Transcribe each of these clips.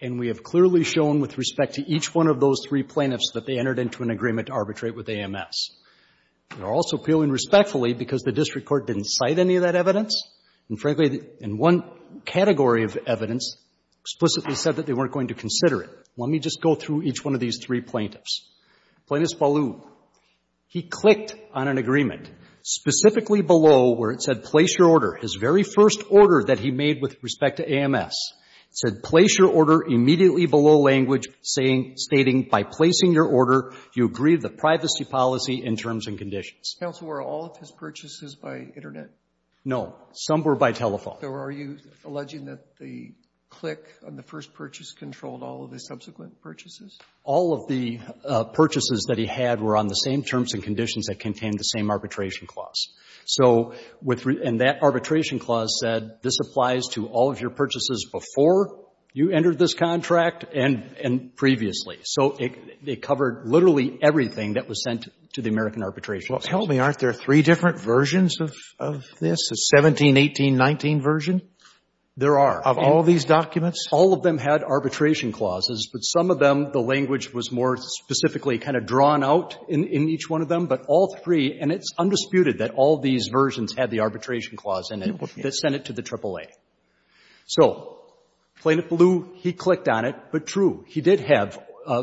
and we have clearly shown with respect to each one of those three plaintiffs that they entered into an agreement to arbitrate with AMS. They're also appealing respectfully because the district court didn't cite any of that evidence and frankly, in one category of evidence, explicitly said that they weren't going to consider it. Let me just go through each one of these three plaintiffs. Plaintiff Ballou, he clicked on an agreement, specifically below where it said, place your order, his very first order that he made with respect to AMS. It said, place your order immediately below language stating, by placing your order, you agree to the privacy policy in terms and conditions. Counsel, were all of his purchases by Internet? No. Some were by telephone. So are you alleging that the click on the first purchase controlled all of the subsequent purchases? All of the purchases that he had were on the same terms and conditions that contained the same arbitration clause. So with — and that arbitration clause said, this applies to all of your purchases before you entered this contract and previously. So it covered literally everything that was sent to the American Arbitration Act. Well, tell me, aren't there three different versions of this, a 17, 18, 19 version? There are. Of all these documents? All of them had arbitration clauses, but some of them, the language was more specifically kind of drawn out in each one of them. But all three, and it's undisputed that all these versions had the arbitration clause in it that sent it to the AAA. So, plain and blue, he clicked on it. But true, he did have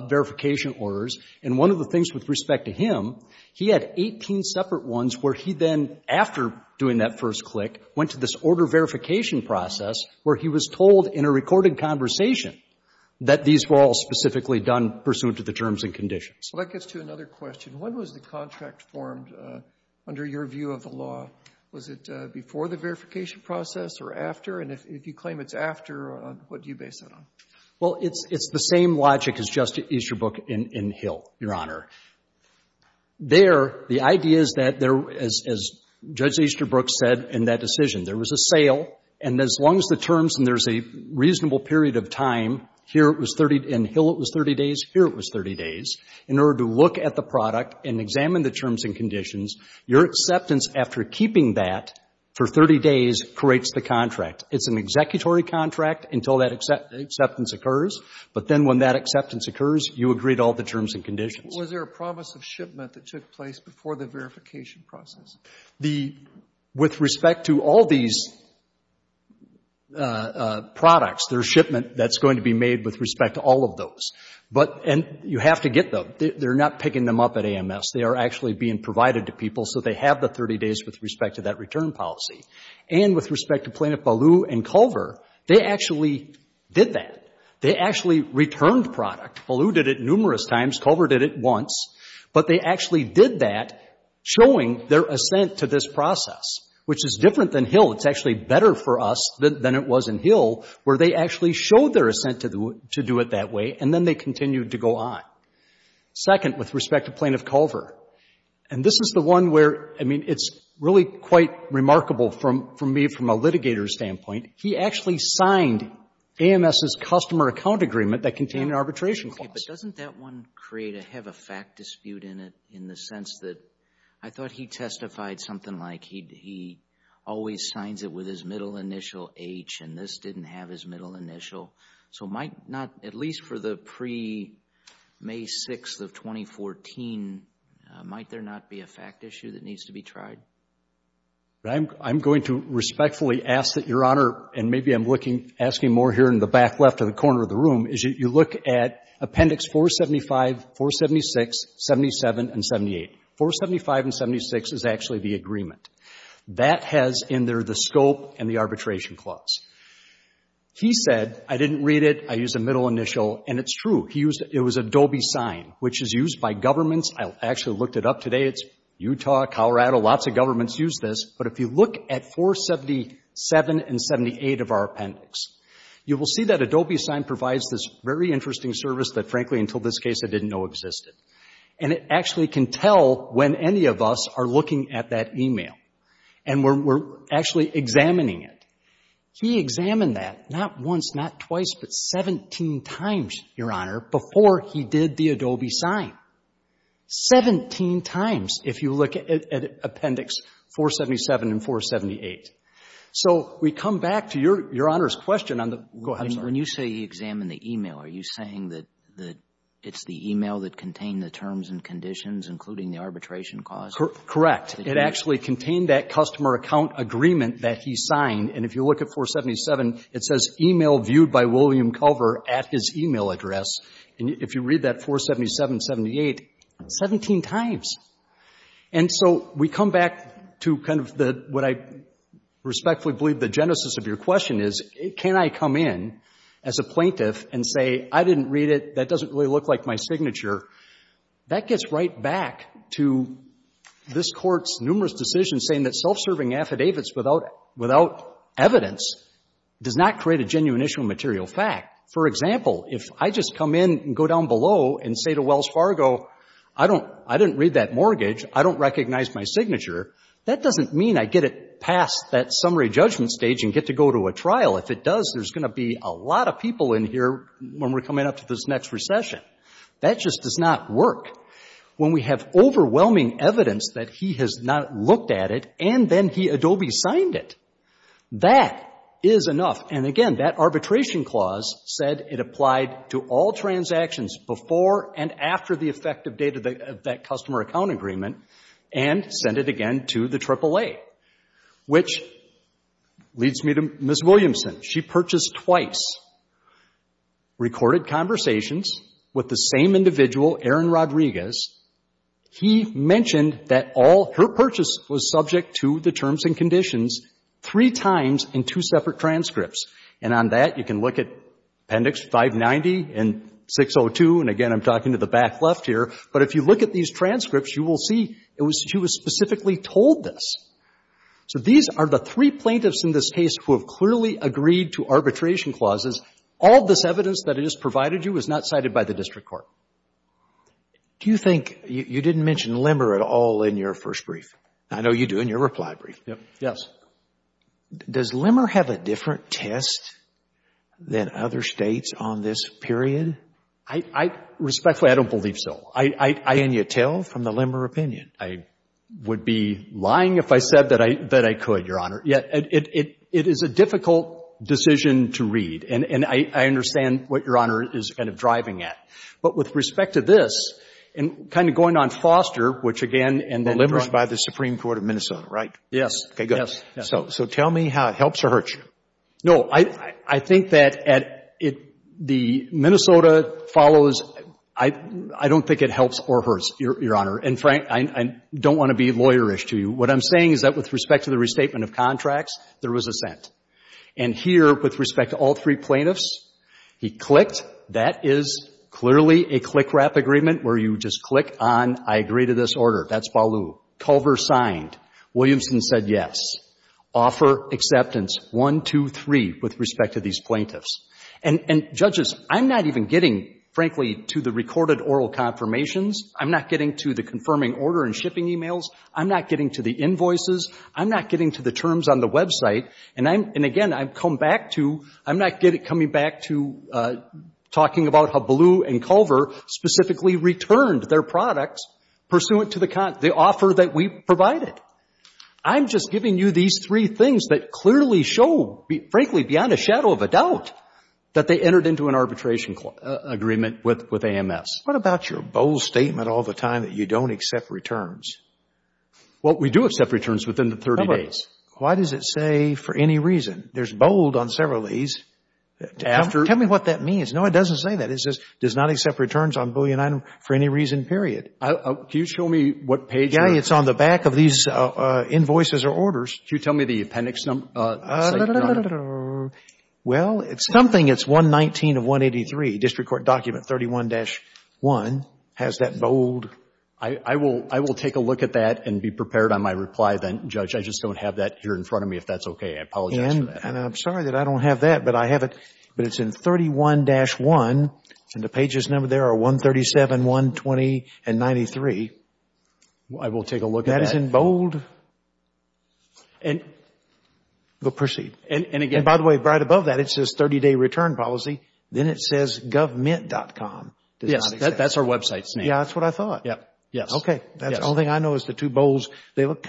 verification orders. And one of the things with respect to him, he had 18 separate ones where he then, after doing that first click, went to this order verification process where he was told in a recorded conversation that these were all specifically done pursuant to the terms and conditions. Well, that gets to another question. When was the contract formed under your view of the law? Was it before the verification process or after? And if you claim it's after, what do you base it on? Well, it's the same logic as Justice Easterbrook in Hill, Your Honor. There, the idea is that there, as Judge Easterbrook said in that decision, there was a sale. And as long as the terms, and there's a reasonable period of time, here it was 30, in Hill it was 30 days, here it was 30 days. In order to look at the product and examine the terms and conditions, your acceptance after keeping that for 30 days creates the contract. It's an executory contract until that acceptance occurs. But then when that acceptance occurs, you agree to all the terms and conditions. Was there a promise of shipment that took place before the verification process? The, with respect to all these products, there's shipment that's going to be made with respect to all of those. But, and you have to get them. They're not picking them up at AMS. They are actually being provided to people so they have the 30 days with respect to that return policy. And with respect to Plaintiff Ballou and Culver, they actually did that. They actually returned product. Ballou did it numerous times. Culver did it once. But they actually did that showing their assent to this process, which is different than Hill. It's actually better for us than it was in Hill, where they actually showed their assent to do it that way, and then they continued to go on. Second, with respect to Plaintiff Culver, and this is the one where, I mean, it's really quite remarkable for me from a litigator's standpoint. He actually signed AMS's customer account agreement that contained an arbitration clause. But doesn't that one create a, have a fact dispute in it, in the sense that I thought he testified something like he always signs it with his middle initial H, and this didn't have his middle initial. So might not, at least for the pre-May 6th of 2014, might there not be a fact issue that needs to be tried? I'm going to respectfully ask that Your Honor, and maybe I'm looking, asking more here in the back left of the corner of the room, is that you look at Appendix 475, 476, 77, and 78. 475 and 76 is actually the agreement. That has in there the scope and the arbitration clause. He said, I didn't read it, I used a middle initial, and it's true. He used, it was Adobe Sign, which is used by governments. I actually looked it up today. It's Utah, Colorado, lots of governments use this. But if you look at 477 and 78 of our appendix, you will see that Adobe Sign provides this very interesting service that, frankly, until this case, I didn't know existed. And it actually can tell when any of us are looking at that email. And we're actually examining it. He examined that, not once, not twice, but 17 times, Your Honor, before he did the Adobe Sign, 17 times, if you look at Appendix 477 and 478. So we come back to Your Honor's question on the, go ahead, sir. When you say he examined the email, are you saying that it's the email that contained the terms and conditions, including the arbitration clause? Correct. It actually contained that customer account agreement that he signed. And if you look at 477, it says email viewed by William Culver at his email address. And if you read that 477, 78, 17 times. And so we come back to kind of what I respectfully believe the genesis of your question is, can I come in as a plaintiff and say, I didn't read it. That doesn't really look like my signature. That gets right back to this court's numerous decisions saying that self-serving affidavits without evidence does not create a genuine issue of material fact. For example, if I just come in and go down below and say to Wells Fargo, I didn't read that mortgage, I don't recognize my signature, that doesn't mean I get it past that summary judgment stage and get to go to a trial. If it does, there's going to be a lot of people in here when we're coming up to this next recession. That just does not work. When we have overwhelming evidence that he has not looked at it and then he Adobe signed it, that is enough. And again, that arbitration clause said it applied to all transactions before and after the effective date of that customer account agreement and send it again to the AAA. Which leads me to Ms. Williamson. She purchased twice, recorded conversations with the same individual, Aaron Rodriguez. He mentioned that all her purchase was subject to the terms and conditions three times in two separate transcripts. And on that, you can look at Appendix 590 and 602. And again, I'm talking to the back left here. But if you look at these transcripts, you will see she was specifically told this. So these are the three plaintiffs in this case who have clearly agreed to arbitration clauses. All this evidence that is provided to you is not cited by the district court. Do you think, you didn't mention Limmer at all in your first brief. I know you do in your reply brief. Yes. Does Limmer have a different test than other States on this period? I respectfully, I don't believe so. I, and you tell from the Limmer opinion. I would be lying if I said that I could, Your Honor. Yeah, it is a difficult decision to read. And I understand what Your Honor is kind of driving at. But with respect to this, and kind of going on foster, which again, and the Limmer's by the Supreme Court of Minnesota, right? Yes. Okay, good. So tell me how it helps or hurts you. No, I think that at it, the Minnesota follows. I don't think it helps or hurts, Your Honor. And Frank, I don't want to be lawyerish to you. What I'm saying is that with respect to the restatement of contracts, there was a cent. And here, with respect to all three plaintiffs, he clicked. That is clearly a click wrap agreement where you just click on, I agree to this order. That's Ballou. Culver signed. Williamson said yes. Offer acceptance, one, two, three, with respect to these plaintiffs. And judges, I'm not even getting, frankly, to the recorded oral confirmations. I'm not getting to the confirming order and shipping emails. I'm not getting to the invoices. I'm not getting to the terms on the website. And again, I've come back to, I'm not coming back to talking about how Ballou and Culver specifically returned their products pursuant to the offer that we provided. I'm just giving you these three things that clearly show, frankly, beyond a shadow of a doubt, that they entered into an arbitration agreement with AMS. What about your bold statement all the time that you don't accept returns? Well, we do accept returns within the 30 days. Why does it say, for any reason? There's bold on several of these. Tell me what that means. No, it doesn't say that. It says, does not accept returns on Boolean item for any reason, period. Can you show me what page? Yeah, it's on the back of these invoices or orders. Can you tell me the appendix number? Well, it's something. It's 119 of 183. District Court document 31-1 has that bold... I will take a look at that and be prepared on my reply then, Judge. I just don't have that here in front of me if that's okay. I apologize for that. And I'm sorry that I don't have that, but I have it, but it's in 31-1 and the pages number there are 137, 120, and 93. I will take a look at that. That is in bold. And... Well, proceed. And again... Yes. That's our website's name. Yeah, that's what I thought. Yeah. Yes. Okay. The only thing I know is the two bolds, they look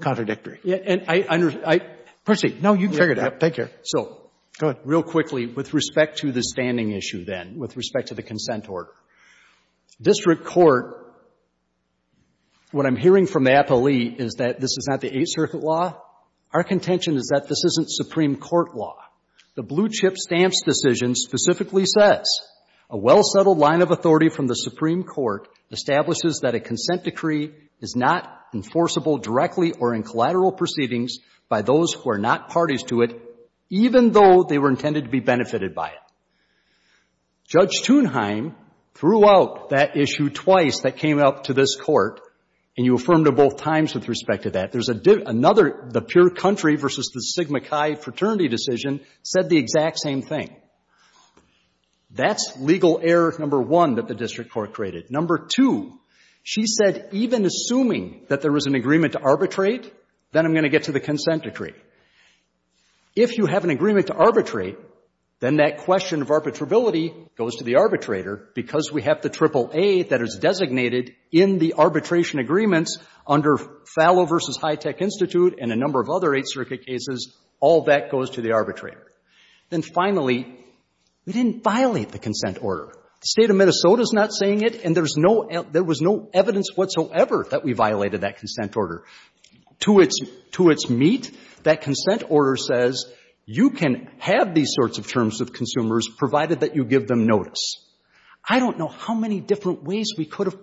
contradictory. Yeah. And I... Proceed. No, you can figure it out. Take care. So... Go ahead. Real quickly, with respect to the standing issue then, with respect to the consent order. District Court, what I'm hearing from the appellee is that this is not the Eighth Circuit law. Our contention is that this isn't Supreme Court law. The blue-chip stamps decision specifically says, a well-settled line of authority from the Supreme Court establishes that a consent decree is not enforceable directly or in collateral proceedings by those who are not parties to it, even though they were intended to be benefited by it. Judge Thunheim threw out that issue twice that came up to this Court, and you affirmed it both times with respect to that. There's another, the pure country versus the Sigma Chi fraternity decision said the exact same thing. That's legal error number one that the District Court created. Number two, she said even assuming that there was an agreement to arbitrate, then I'm going to get to the consent decree. If you have an agreement to arbitrate, then that question of arbitrability goes to the arbitrator because we have the triple A that is designated in the High Tech Institute and a number of other Eighth Circuit cases. All that goes to the arbitrator. Then finally, we didn't violate the consent order. The State of Minnesota is not saying it, and there's no, there was no evidence whatsoever that we violated that consent order. To its, to its meat, that consent order says you can have these sorts of terms with consumers provided that you give them notice. I don't know how many different ways we could have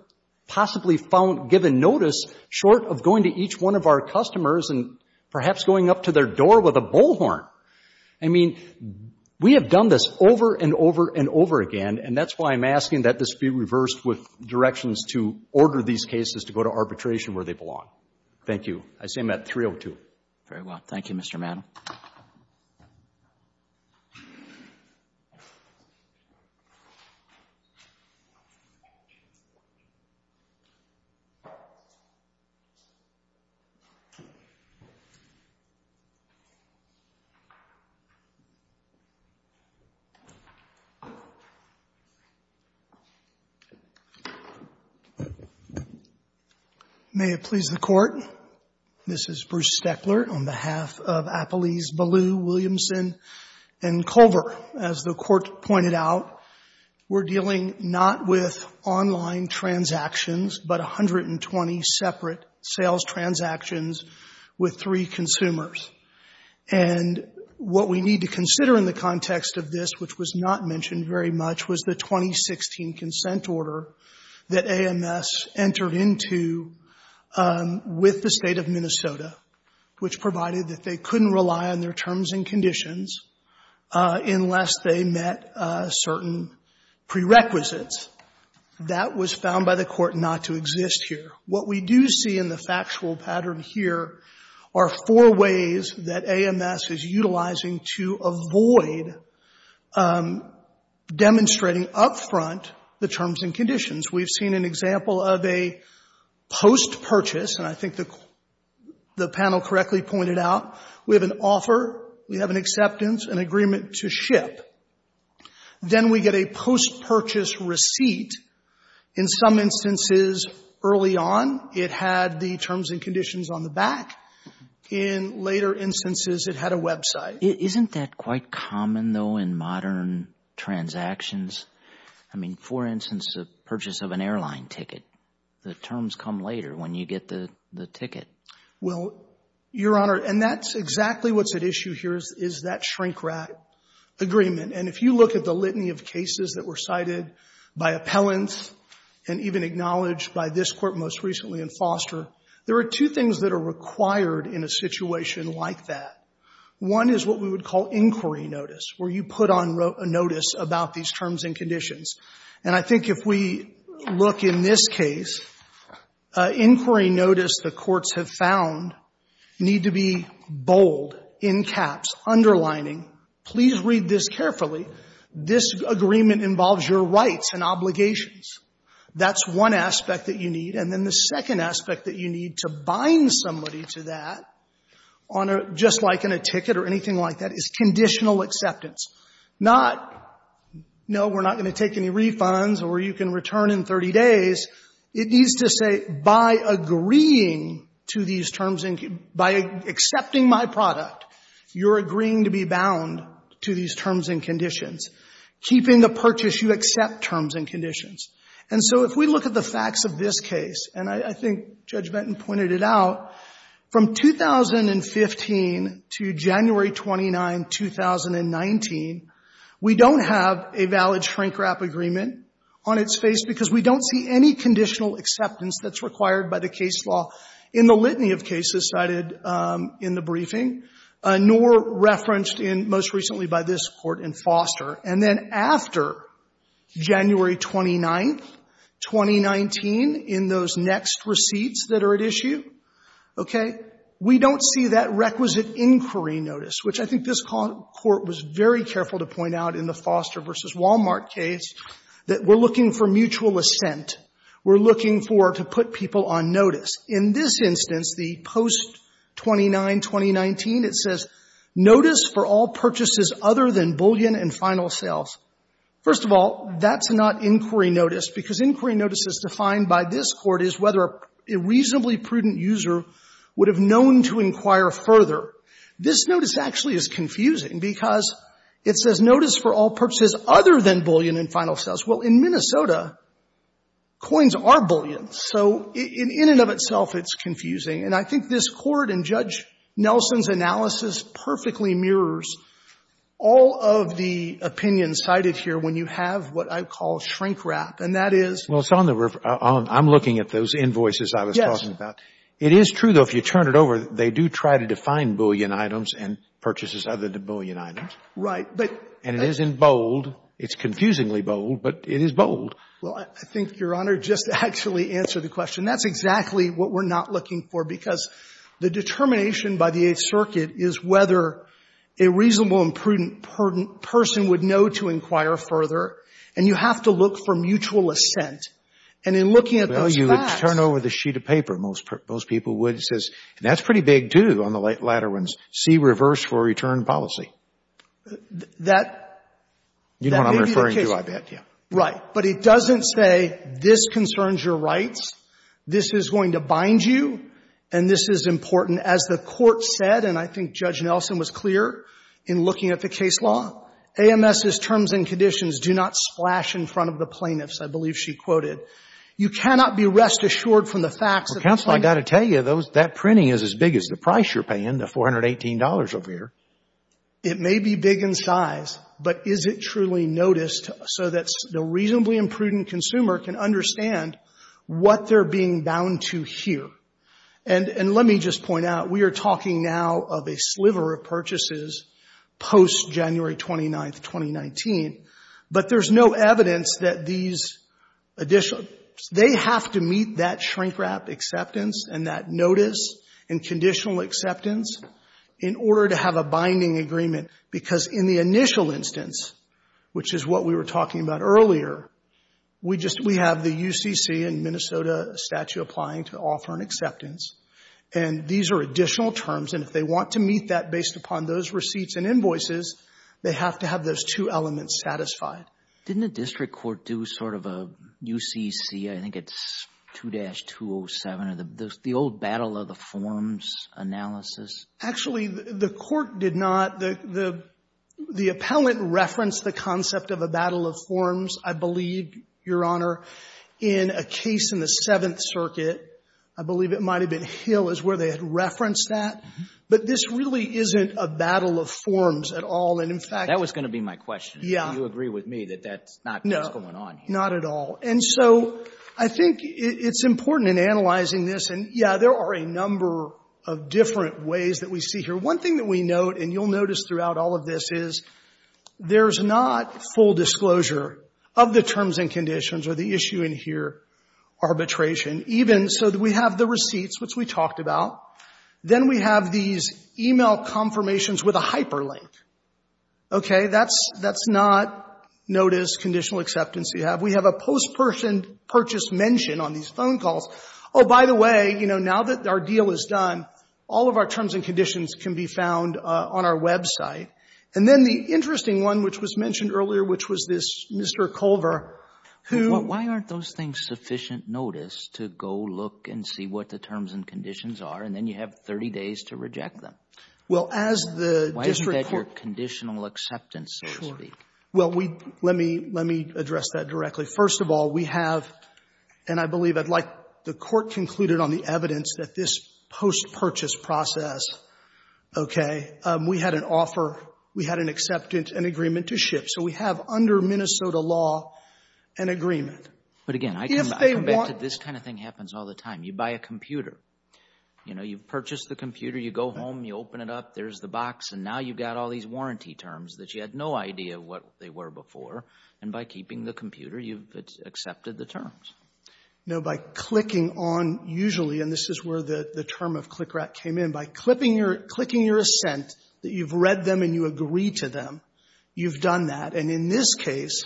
possibly found given notice short of going to each one of our customers and perhaps going up to their door with a bullhorn. I mean, we have done this over and over and over again, and that's why I'm asking that this be reversed with directions to order these cases to go to arbitration where they belong. Thank you. I say them at 302. Very well. Thank you, Mr. Maddow. May it please the Court. This is Bruce Steckler on behalf of Appelese, Ballew, Williamson, and Culver. As the Court pointed out, we're dealing not with online transactions, but 120 separate sales transactions with three consumers. And what we need to consider in the context of this, which was not mentioned very much, was the 2016 consent order that AMS entered into with the State of Minnesota, which provided that they couldn't rely on their terms and conditions unless they met certain prerequisites. That was found by the Court not to exist here. What we do see in the factual pattern here are four ways that AMS is utilizing to avoid demonstrating up front the terms and conditions. We've seen an example of a post-purchase, and I think the panel correctly pointed out, we have an offer, we have an acceptance, an agreement to ship. Then we get a post-purchase receipt. In some instances early on, it had the terms and conditions on the back. In later instances, it had a website. Isn't that quite common, though, in modern transactions? I mean, for instance, the purchase of an airline ticket. The terms come later when you get the ticket. Well, Your Honor, and that's exactly what's at issue here is that shrink-wrap agreement. And if you look at the litany of cases that were cited by appellants and even acknowledged by this Court most recently in Foster, there are two things that are required in a situation like that. One is what we would call inquiry notice, where you put on notice about these terms and conditions. And I think if we look in this case, inquiry notice, the courts have found, need to be bold, in caps, underlining, please read this carefully, this agreement involves your rights and obligations. That's one aspect that you need. And then the second aspect that you need to bind somebody to that on a — just like in a ticket or anything like that, is conditional acceptance. Not, no, we're not going to take any refunds, or you can return in 30 days. It needs to say, by agreeing to these terms and — by accepting my product, you're agreeing to be bound to these terms and conditions. Keeping the purchase, you accept terms and conditions. And so if we look at the facts of this case, and I think Judge Benton pointed it out, from 2015 to January 29, 2019, we don't have a valid shrink-wrap agreement on its face, because we don't see any conditional acceptance that's required by the case law in the litany of cases cited in the briefing, nor referenced in, most recently by this Court, in Foster. And then after January 29, 2019, in those next receipts that are at issue, okay, we don't see that requisite inquiry notice, which I think this Court was very careful to point out in the Foster v. Walmart case, that we're looking for mutual assent. We're looking for — to put people on notice. In this instance, the post-29, 2019, it says, notice for all purchases other than bullion and final sales. First of all, that's not inquiry notice, because notice actually is confusing, because it says notice for all purchases other than bullion and final sales. Well, in Minnesota, coins are bullion, so in and of itself it's confusing. And I think this Court and Judge Nelson's analysis perfectly mirrors all of the opinions cited here when you have what I call shrink-wrap, and that is — Well, it's on the — I'm looking at those invoices I was talking about. Yes. It is true, though, if you turn it over, they do try to define bullion items and purchases other than bullion items. Right. But — And it isn't bold. It's confusingly bold, but it is bold. Well, I think, Your Honor, just to actually answer the question, that's exactly what we're not looking for, because the determination by the Eighth Circuit is whether a reasonable and prudent person would know to inquire further, and you have to look for mutual assent. And in looking at those facts — You would turn over the sheet of paper, most people would. It says — and that's pretty big, too, on the latter ones — see reverse for return policy. That — You know what I'm referring to, I bet, yeah. Right. But it doesn't say, this concerns your rights, this is going to bind you, and this is important. As the Court said, and I think Judge Nelson was clear in looking at the case law, AMS's terms and conditions do not splash in front of the facts. Well, counsel, I got to tell you, that printing is as big as the price you're paying, the $418 over here. It may be big in size, but is it truly noticed so that the reasonably and prudent consumer can understand what they're being bound to here? And let me just point out, we are talking now of a sliver of purchases post-January 29th, 2019. But there's no evidence that these additional — they have to meet that shrink-wrap acceptance and that notice and conditional acceptance in order to have a binding agreement. Because in the initial instance, which is what we were talking about earlier, we just — we have the UCC and Minnesota statute applying to offer an acceptance, and these are additional terms. And if they want to meet that based upon those receipts and invoices, they have to have those two elements satisfied. Didn't the district court do sort of a UCC, I think it's 2-207, the old battle of the forms analysis? Actually, the court did not. The appellant referenced the concept of a battle of forms, I believe, Your Honor, in a case in the Seventh Circuit. I believe it might have been Hill is where they had referenced that. But this really isn't a battle of forms at all. That was going to be my question. Do you agree with me that that's not what's going on here? No, not at all. And so I think it's important in analyzing this, and, yeah, there are a number of different ways that we see here. One thing that we note, and you'll notice throughout all of this, is there's not full disclosure of the terms and conditions or the issue in here arbitration. Even so, we have the receipts, which we talked about. Then we have these e-mail confirmations with a hyperlink. Okay? That's not notice, conditional acceptance you have. We have a post-person purchase mention on these phone calls. Oh, by the way, you know, now that our deal is done, all of our terms and conditions can be found on our website. And then the interesting one which was mentioned earlier, which was this Mr. Culver, who — Well, as the district court — Why isn't that your conditional acceptance, so to speak? Sure. Well, we — let me — let me address that directly. First of all, we have — and I believe I'd like the Court concluded on the evidence that this post-purchase process, okay, we had an offer, we had an acceptance, an agreement to ship. So we have under Minnesota law an agreement. If they want — But, again, I come back to this kind of thing happens all the time. You buy a phone and you buy a computer. You know, you've purchased the computer, you go home, you open it up, there's the box, and now you've got all these warranty terms that you had no idea what they were before. And by keeping the computer, you've accepted the terms. No, by clicking on — usually, and this is where the term of click rat came in — by clipping your — clicking your assent that you've read them and you agree to them, you've done that. And in this case,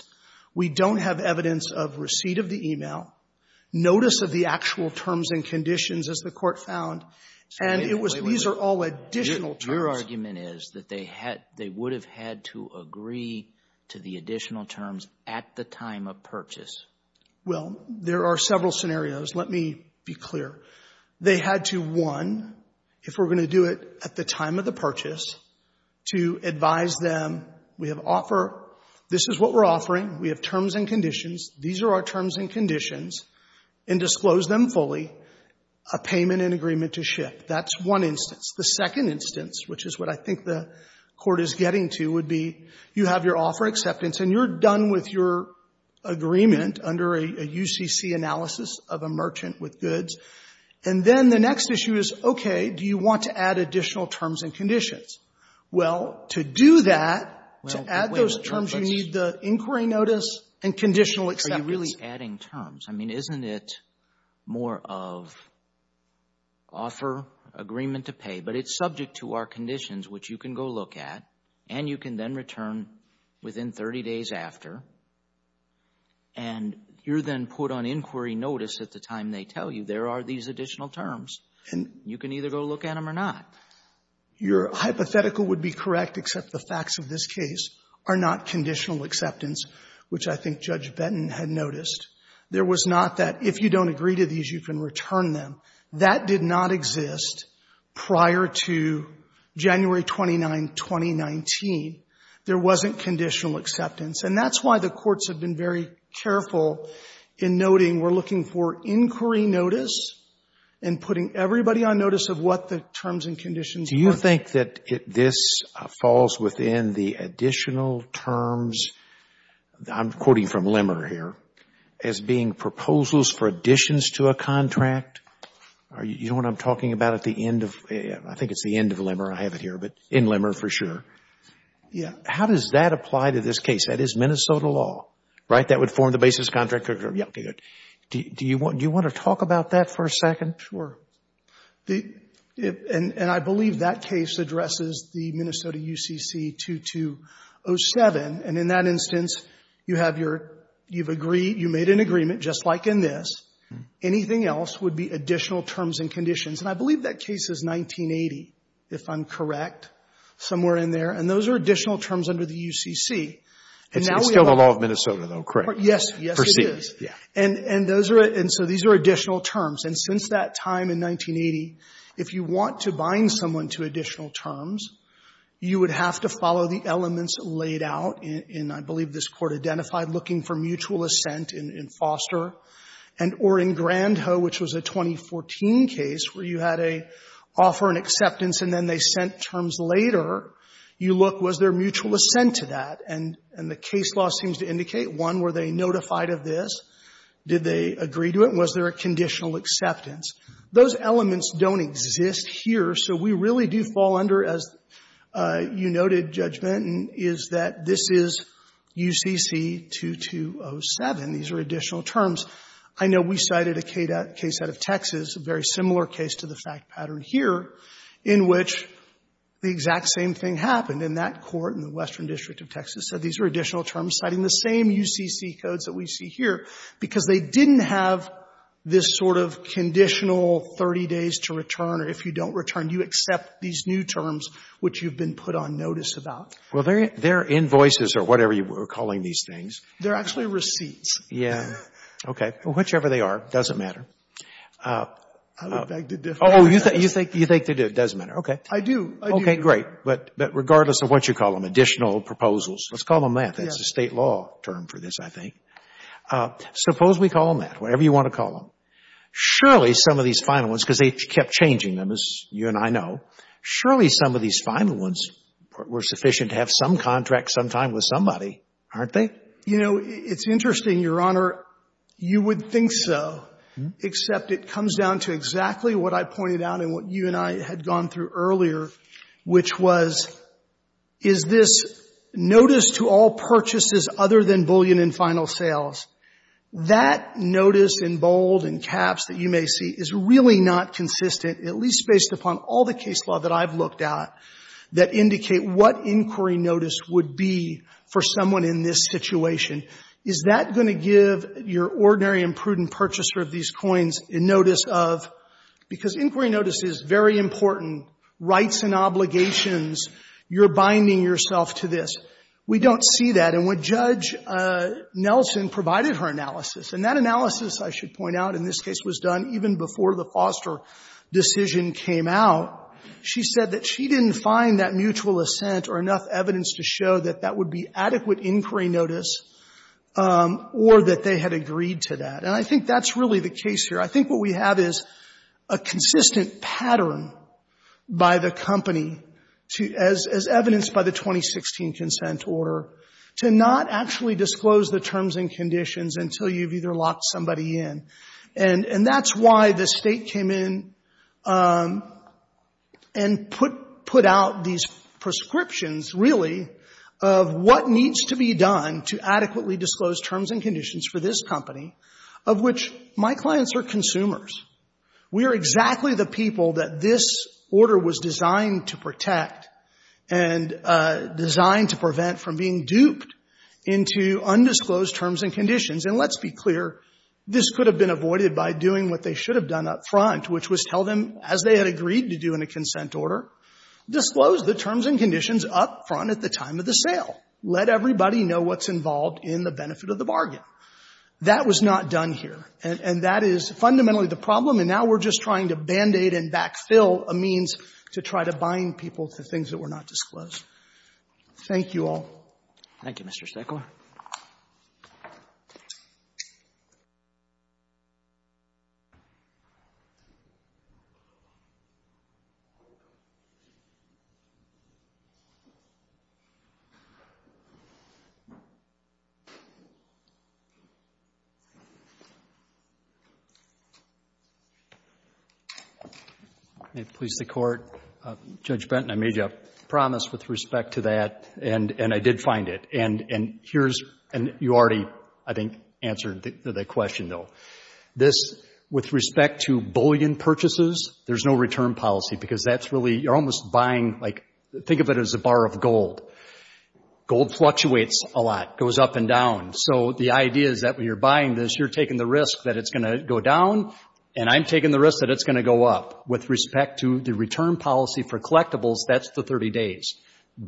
we don't have evidence of receipt of the e-mail, notice of the actual terms and conditions, as the Court found. And it was — Wait, wait, wait. These are all additional terms. Your argument is that they had — they would have had to agree to the additional terms at the time of purchase. Well, there are several scenarios. Let me be clear. They had to, one, if we're going to do it at the time of the purchase, to advise them, we have offer — this is what we're offering. We have terms and conditions. These are our terms and conditions and disclose them fully, a payment and agreement to ship. That's one instance. The second instance, which is what I think the Court is getting to, would be you have your offer acceptance and you're done with your agreement under a UCC analysis of a merchant with goods. And then the next issue is, okay, do you want to add additional terms and conditions? Well, to do that — Well, wait a minute. The terms you need, the inquiry notice and conditional acceptance. Are you really adding terms? I mean, isn't it more of offer, agreement to pay? But it's subject to our conditions, which you can go look at, and you can then return within 30 days after. And you're then put on inquiry notice at the time they tell you there are these additional terms. And — You can either go look at them or not. Your hypothetical would be correct, except the facts of this case are not conditional acceptance, which I think Judge Benton had noticed. There was not that if you don't agree to these, you can return them. That did not exist prior to January 29, 2019. There wasn't conditional acceptance. And that's why the courts have been very careful in noting we're looking for inquiry notice and putting everybody on notice of what the terms and conditions are. Do you think that this falls within the additional terms — I'm quoting from Limmer here — as being proposals for additions to a contract? You know what I'm talking about at the end of — I think it's the end of Limmer. I have it here, but in Limmer for sure. Yeah. How does that apply to this case? That is Minnesota law, right? That would form the basis contract? Yeah, okay, good. Do you want to talk about that for a second? Sure. And I believe that case addresses the Minnesota UCC 2207. And in that instance, you have your — you've agreed — you made an agreement just like in this. Anything else would be additional terms and conditions. And I believe that case is 1980, if I'm correct, somewhere in there. And those are additional terms under the UCC. It's still the law of Minnesota, though, correct? Yes, yes it is. Per se, yeah. And — and those are — and so these are additional terms. And since that time in 1980, if you want to bind someone to additional terms, you would have to follow the elements laid out in, I believe this Court identified, looking for mutual assent in — in Foster and — or in Grandhoe, which was a 2014 case where you had a offer and acceptance, and then they sent terms later. You look, was there mutual assent to that? And — and the case law seems to indicate, one, were they notified of this? Did they agree to it? And was there a conditional acceptance? Those elements don't exist here. So we really do fall under, as you noted, Judgmenten, is that this is UCC 2207. These are additional terms. I know we cited a case out of Texas, a very similar case to the fact pattern here, in which the exact same thing happened. And that Court in the Western District of Texas said these are additional terms citing the same UCC codes that we see here, because they didn't have this sort of conditional 30 days to return, or if you don't return, you accept these new terms which you've been put on notice about. Well, they're invoices or whatever you were calling these things. They're actually receipts. Yeah. Okay. Whichever they are, it doesn't matter. I would beg to differ. Oh, you think — you think they do. It doesn't matter. Okay. I do. I do. They're great. But regardless of what you call them, additional proposals, let's call them that. Yeah. That's the State law term for this, I think. Suppose we call them that, whatever you want to call them. Surely some of these final ones, because they kept changing them, as you and I know, surely some of these final ones were sufficient to have some contract sometime with somebody, aren't they? You know, it's interesting, Your Honor. You would think so, except it comes down to exactly what I pointed out and what you and I had gone through earlier, which was, is this notice to all purchases other than bullion in final sales, that notice in bold and caps that you may see is really not consistent, at least based upon all the case law that I've looked at, that indicate what inquiry notice would be for someone in this situation. Is that going to give your ordinary and prudent purchaser of these coins a notice of — because inquiry notice is very important, rights and obligations, you're binding yourself to this. We don't see that. And when Judge Nelson provided her analysis, and that analysis, I should point out, in this case was done even before the Foster decision came out, she said that she didn't find that mutual assent or enough evidence to show that that would be adequate inquiry notice or that they had agreed to that. And I think that's really the case here. I think what we have is a consistent pattern by the company, as evidenced by the 2016 consent order, to not actually disclose the terms and conditions until you've either locked somebody in. And that's why the State came in and put out these prescriptions, really, of what needs to be done to adequately disclose terms and conditions for this company, of which my clients are consumers. We are exactly the people that this order was designed to protect and designed to prevent from being duped into undisclosed terms and conditions. And let's be clear, this could have been avoided by doing what they should have done up front, which was tell them, as they had agreed to do in a consent order, disclose the terms and conditions up front at the time of the sale. Let everybody know what's involved in the benefit of the bargain. That was not done here. And that is fundamentally the problem, and now we're just trying to Band-Aid and backfill a means to try to bind people to things that were not disclosed. Thank you all. Thank you, Mr. Stoeckler. May it please the Court. Judge Benton, I made you a promise with respect to that, and I did find it. And you already, I think, answered the question, though. This, with respect to bullion purchases, there's no return policy, because that's really, you're almost buying, like, think of it as a bar of gold. Gold fluctuates a lot, goes up and down. So the idea is that when you're buying this, you're taking the risk that it's going to go down, and I'm taking the risk that it's going to go up. With respect to the return policy for collectibles, that's the 30 days.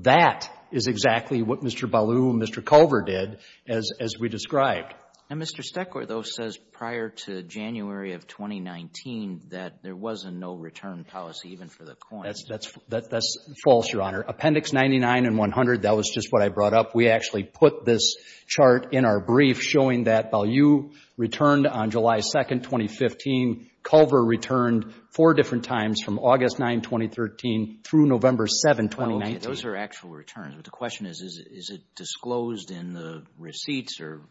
That is exactly what Mr. Ballou and Mr. Culver did, as we described. And Mr. Stoeckler, though, says prior to January of 2019 that there was a no return policy even for the coin. That's false, Your Honor. Appendix 99 and 100, that was just what I brought up. We actually put this chart in our brief showing that Ballou returned on July 2, 2015. Culver returned four different times, from August 9, 2013 through November 7, 2019. Okay. Those are actual returns. But the question is, is it disclosed in the receipts or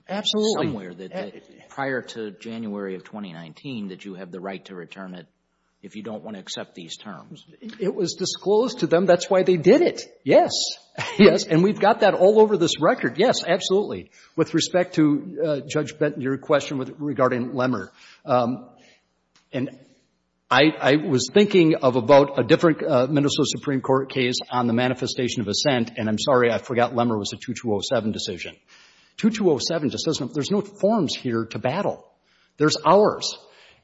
somewhere that prior to January of 2019 that you have the right to return it if you don't want to accept these terms? It was disclosed to them. That's why they did it. Yes. Yes. And we've got that all over this record. Yes, absolutely. With respect to, Judge Benton, your question regarding Lemmer, I was thinking of about a different Minnesota Supreme Court case on the manifestation of assent, and I'm sorry, I forgot Lemmer was a 2207 decision. 2207 just doesn't, there's no forms here to battle. There's ours.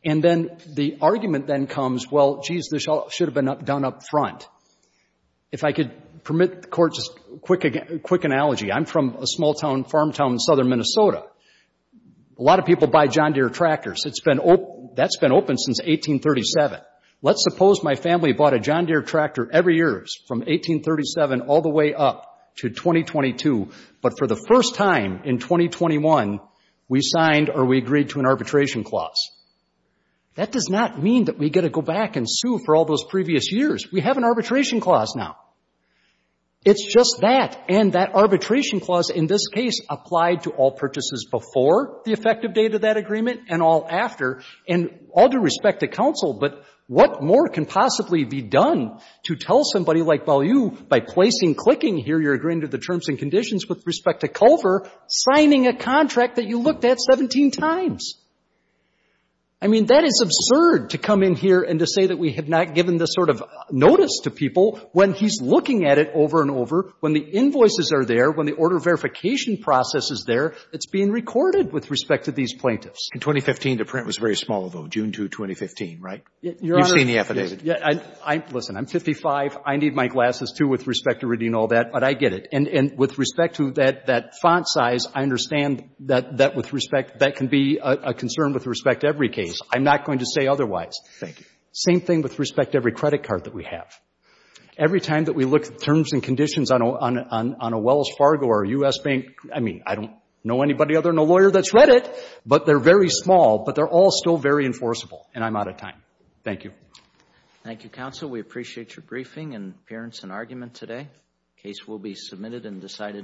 And then the argument then comes, well, geez, this should have been done up front. If I could permit the Court just a quick analogy. I'm from a small town, farm town in southern Minnesota. A lot of people buy John Deere tractors. That's been open since 1837. Let's suppose my family bought a John Deere tractor every year from 1837 all the way up to 2022, but for the first time in 2021, we signed or we agreed to an arbitration clause. That does not mean that we get to go back and sue for all those previous years. We have an arbitration clause now. It's just that, and that arbitration clause in this case applied to all purchases before the effective date of that agreement and all after. And all due respect to counsel, but what more can possibly be done to tell somebody like Ballew, by placing, clicking here, you're agreeing to the terms and conditions with respect to Culver, signing a contract that you looked at 17 times? I mean, that is absurd to come in here and to say that we have not given this sort of notice to people when he's looking at it over and over, when the invoices are there, when the order verification process is there. It's being recorded with respect to these plaintiffs. And 2015, the print was very small, though, June 2, 2015, right? Your Honor. You've seen the affidavit. Listen, I'm 55. I need my glasses, too, with respect to reading all that, but I get it. And with respect to that font size, I understand that with respect, that can be a concern with respect to every case. I'm not going to say otherwise. Thank you. Same thing with respect to every credit card that we have. Every time that we look at terms and conditions on a Wells Fargo or a U.S. bank, I mean, I don't know anybody other than a lawyer that's read it, but they're very small, but they're all still very enforceable, and I'm out of time. Thank you. Okay. Thank you, counsel. We appreciate your briefing and appearance and argument today. The case will be submitted and decided.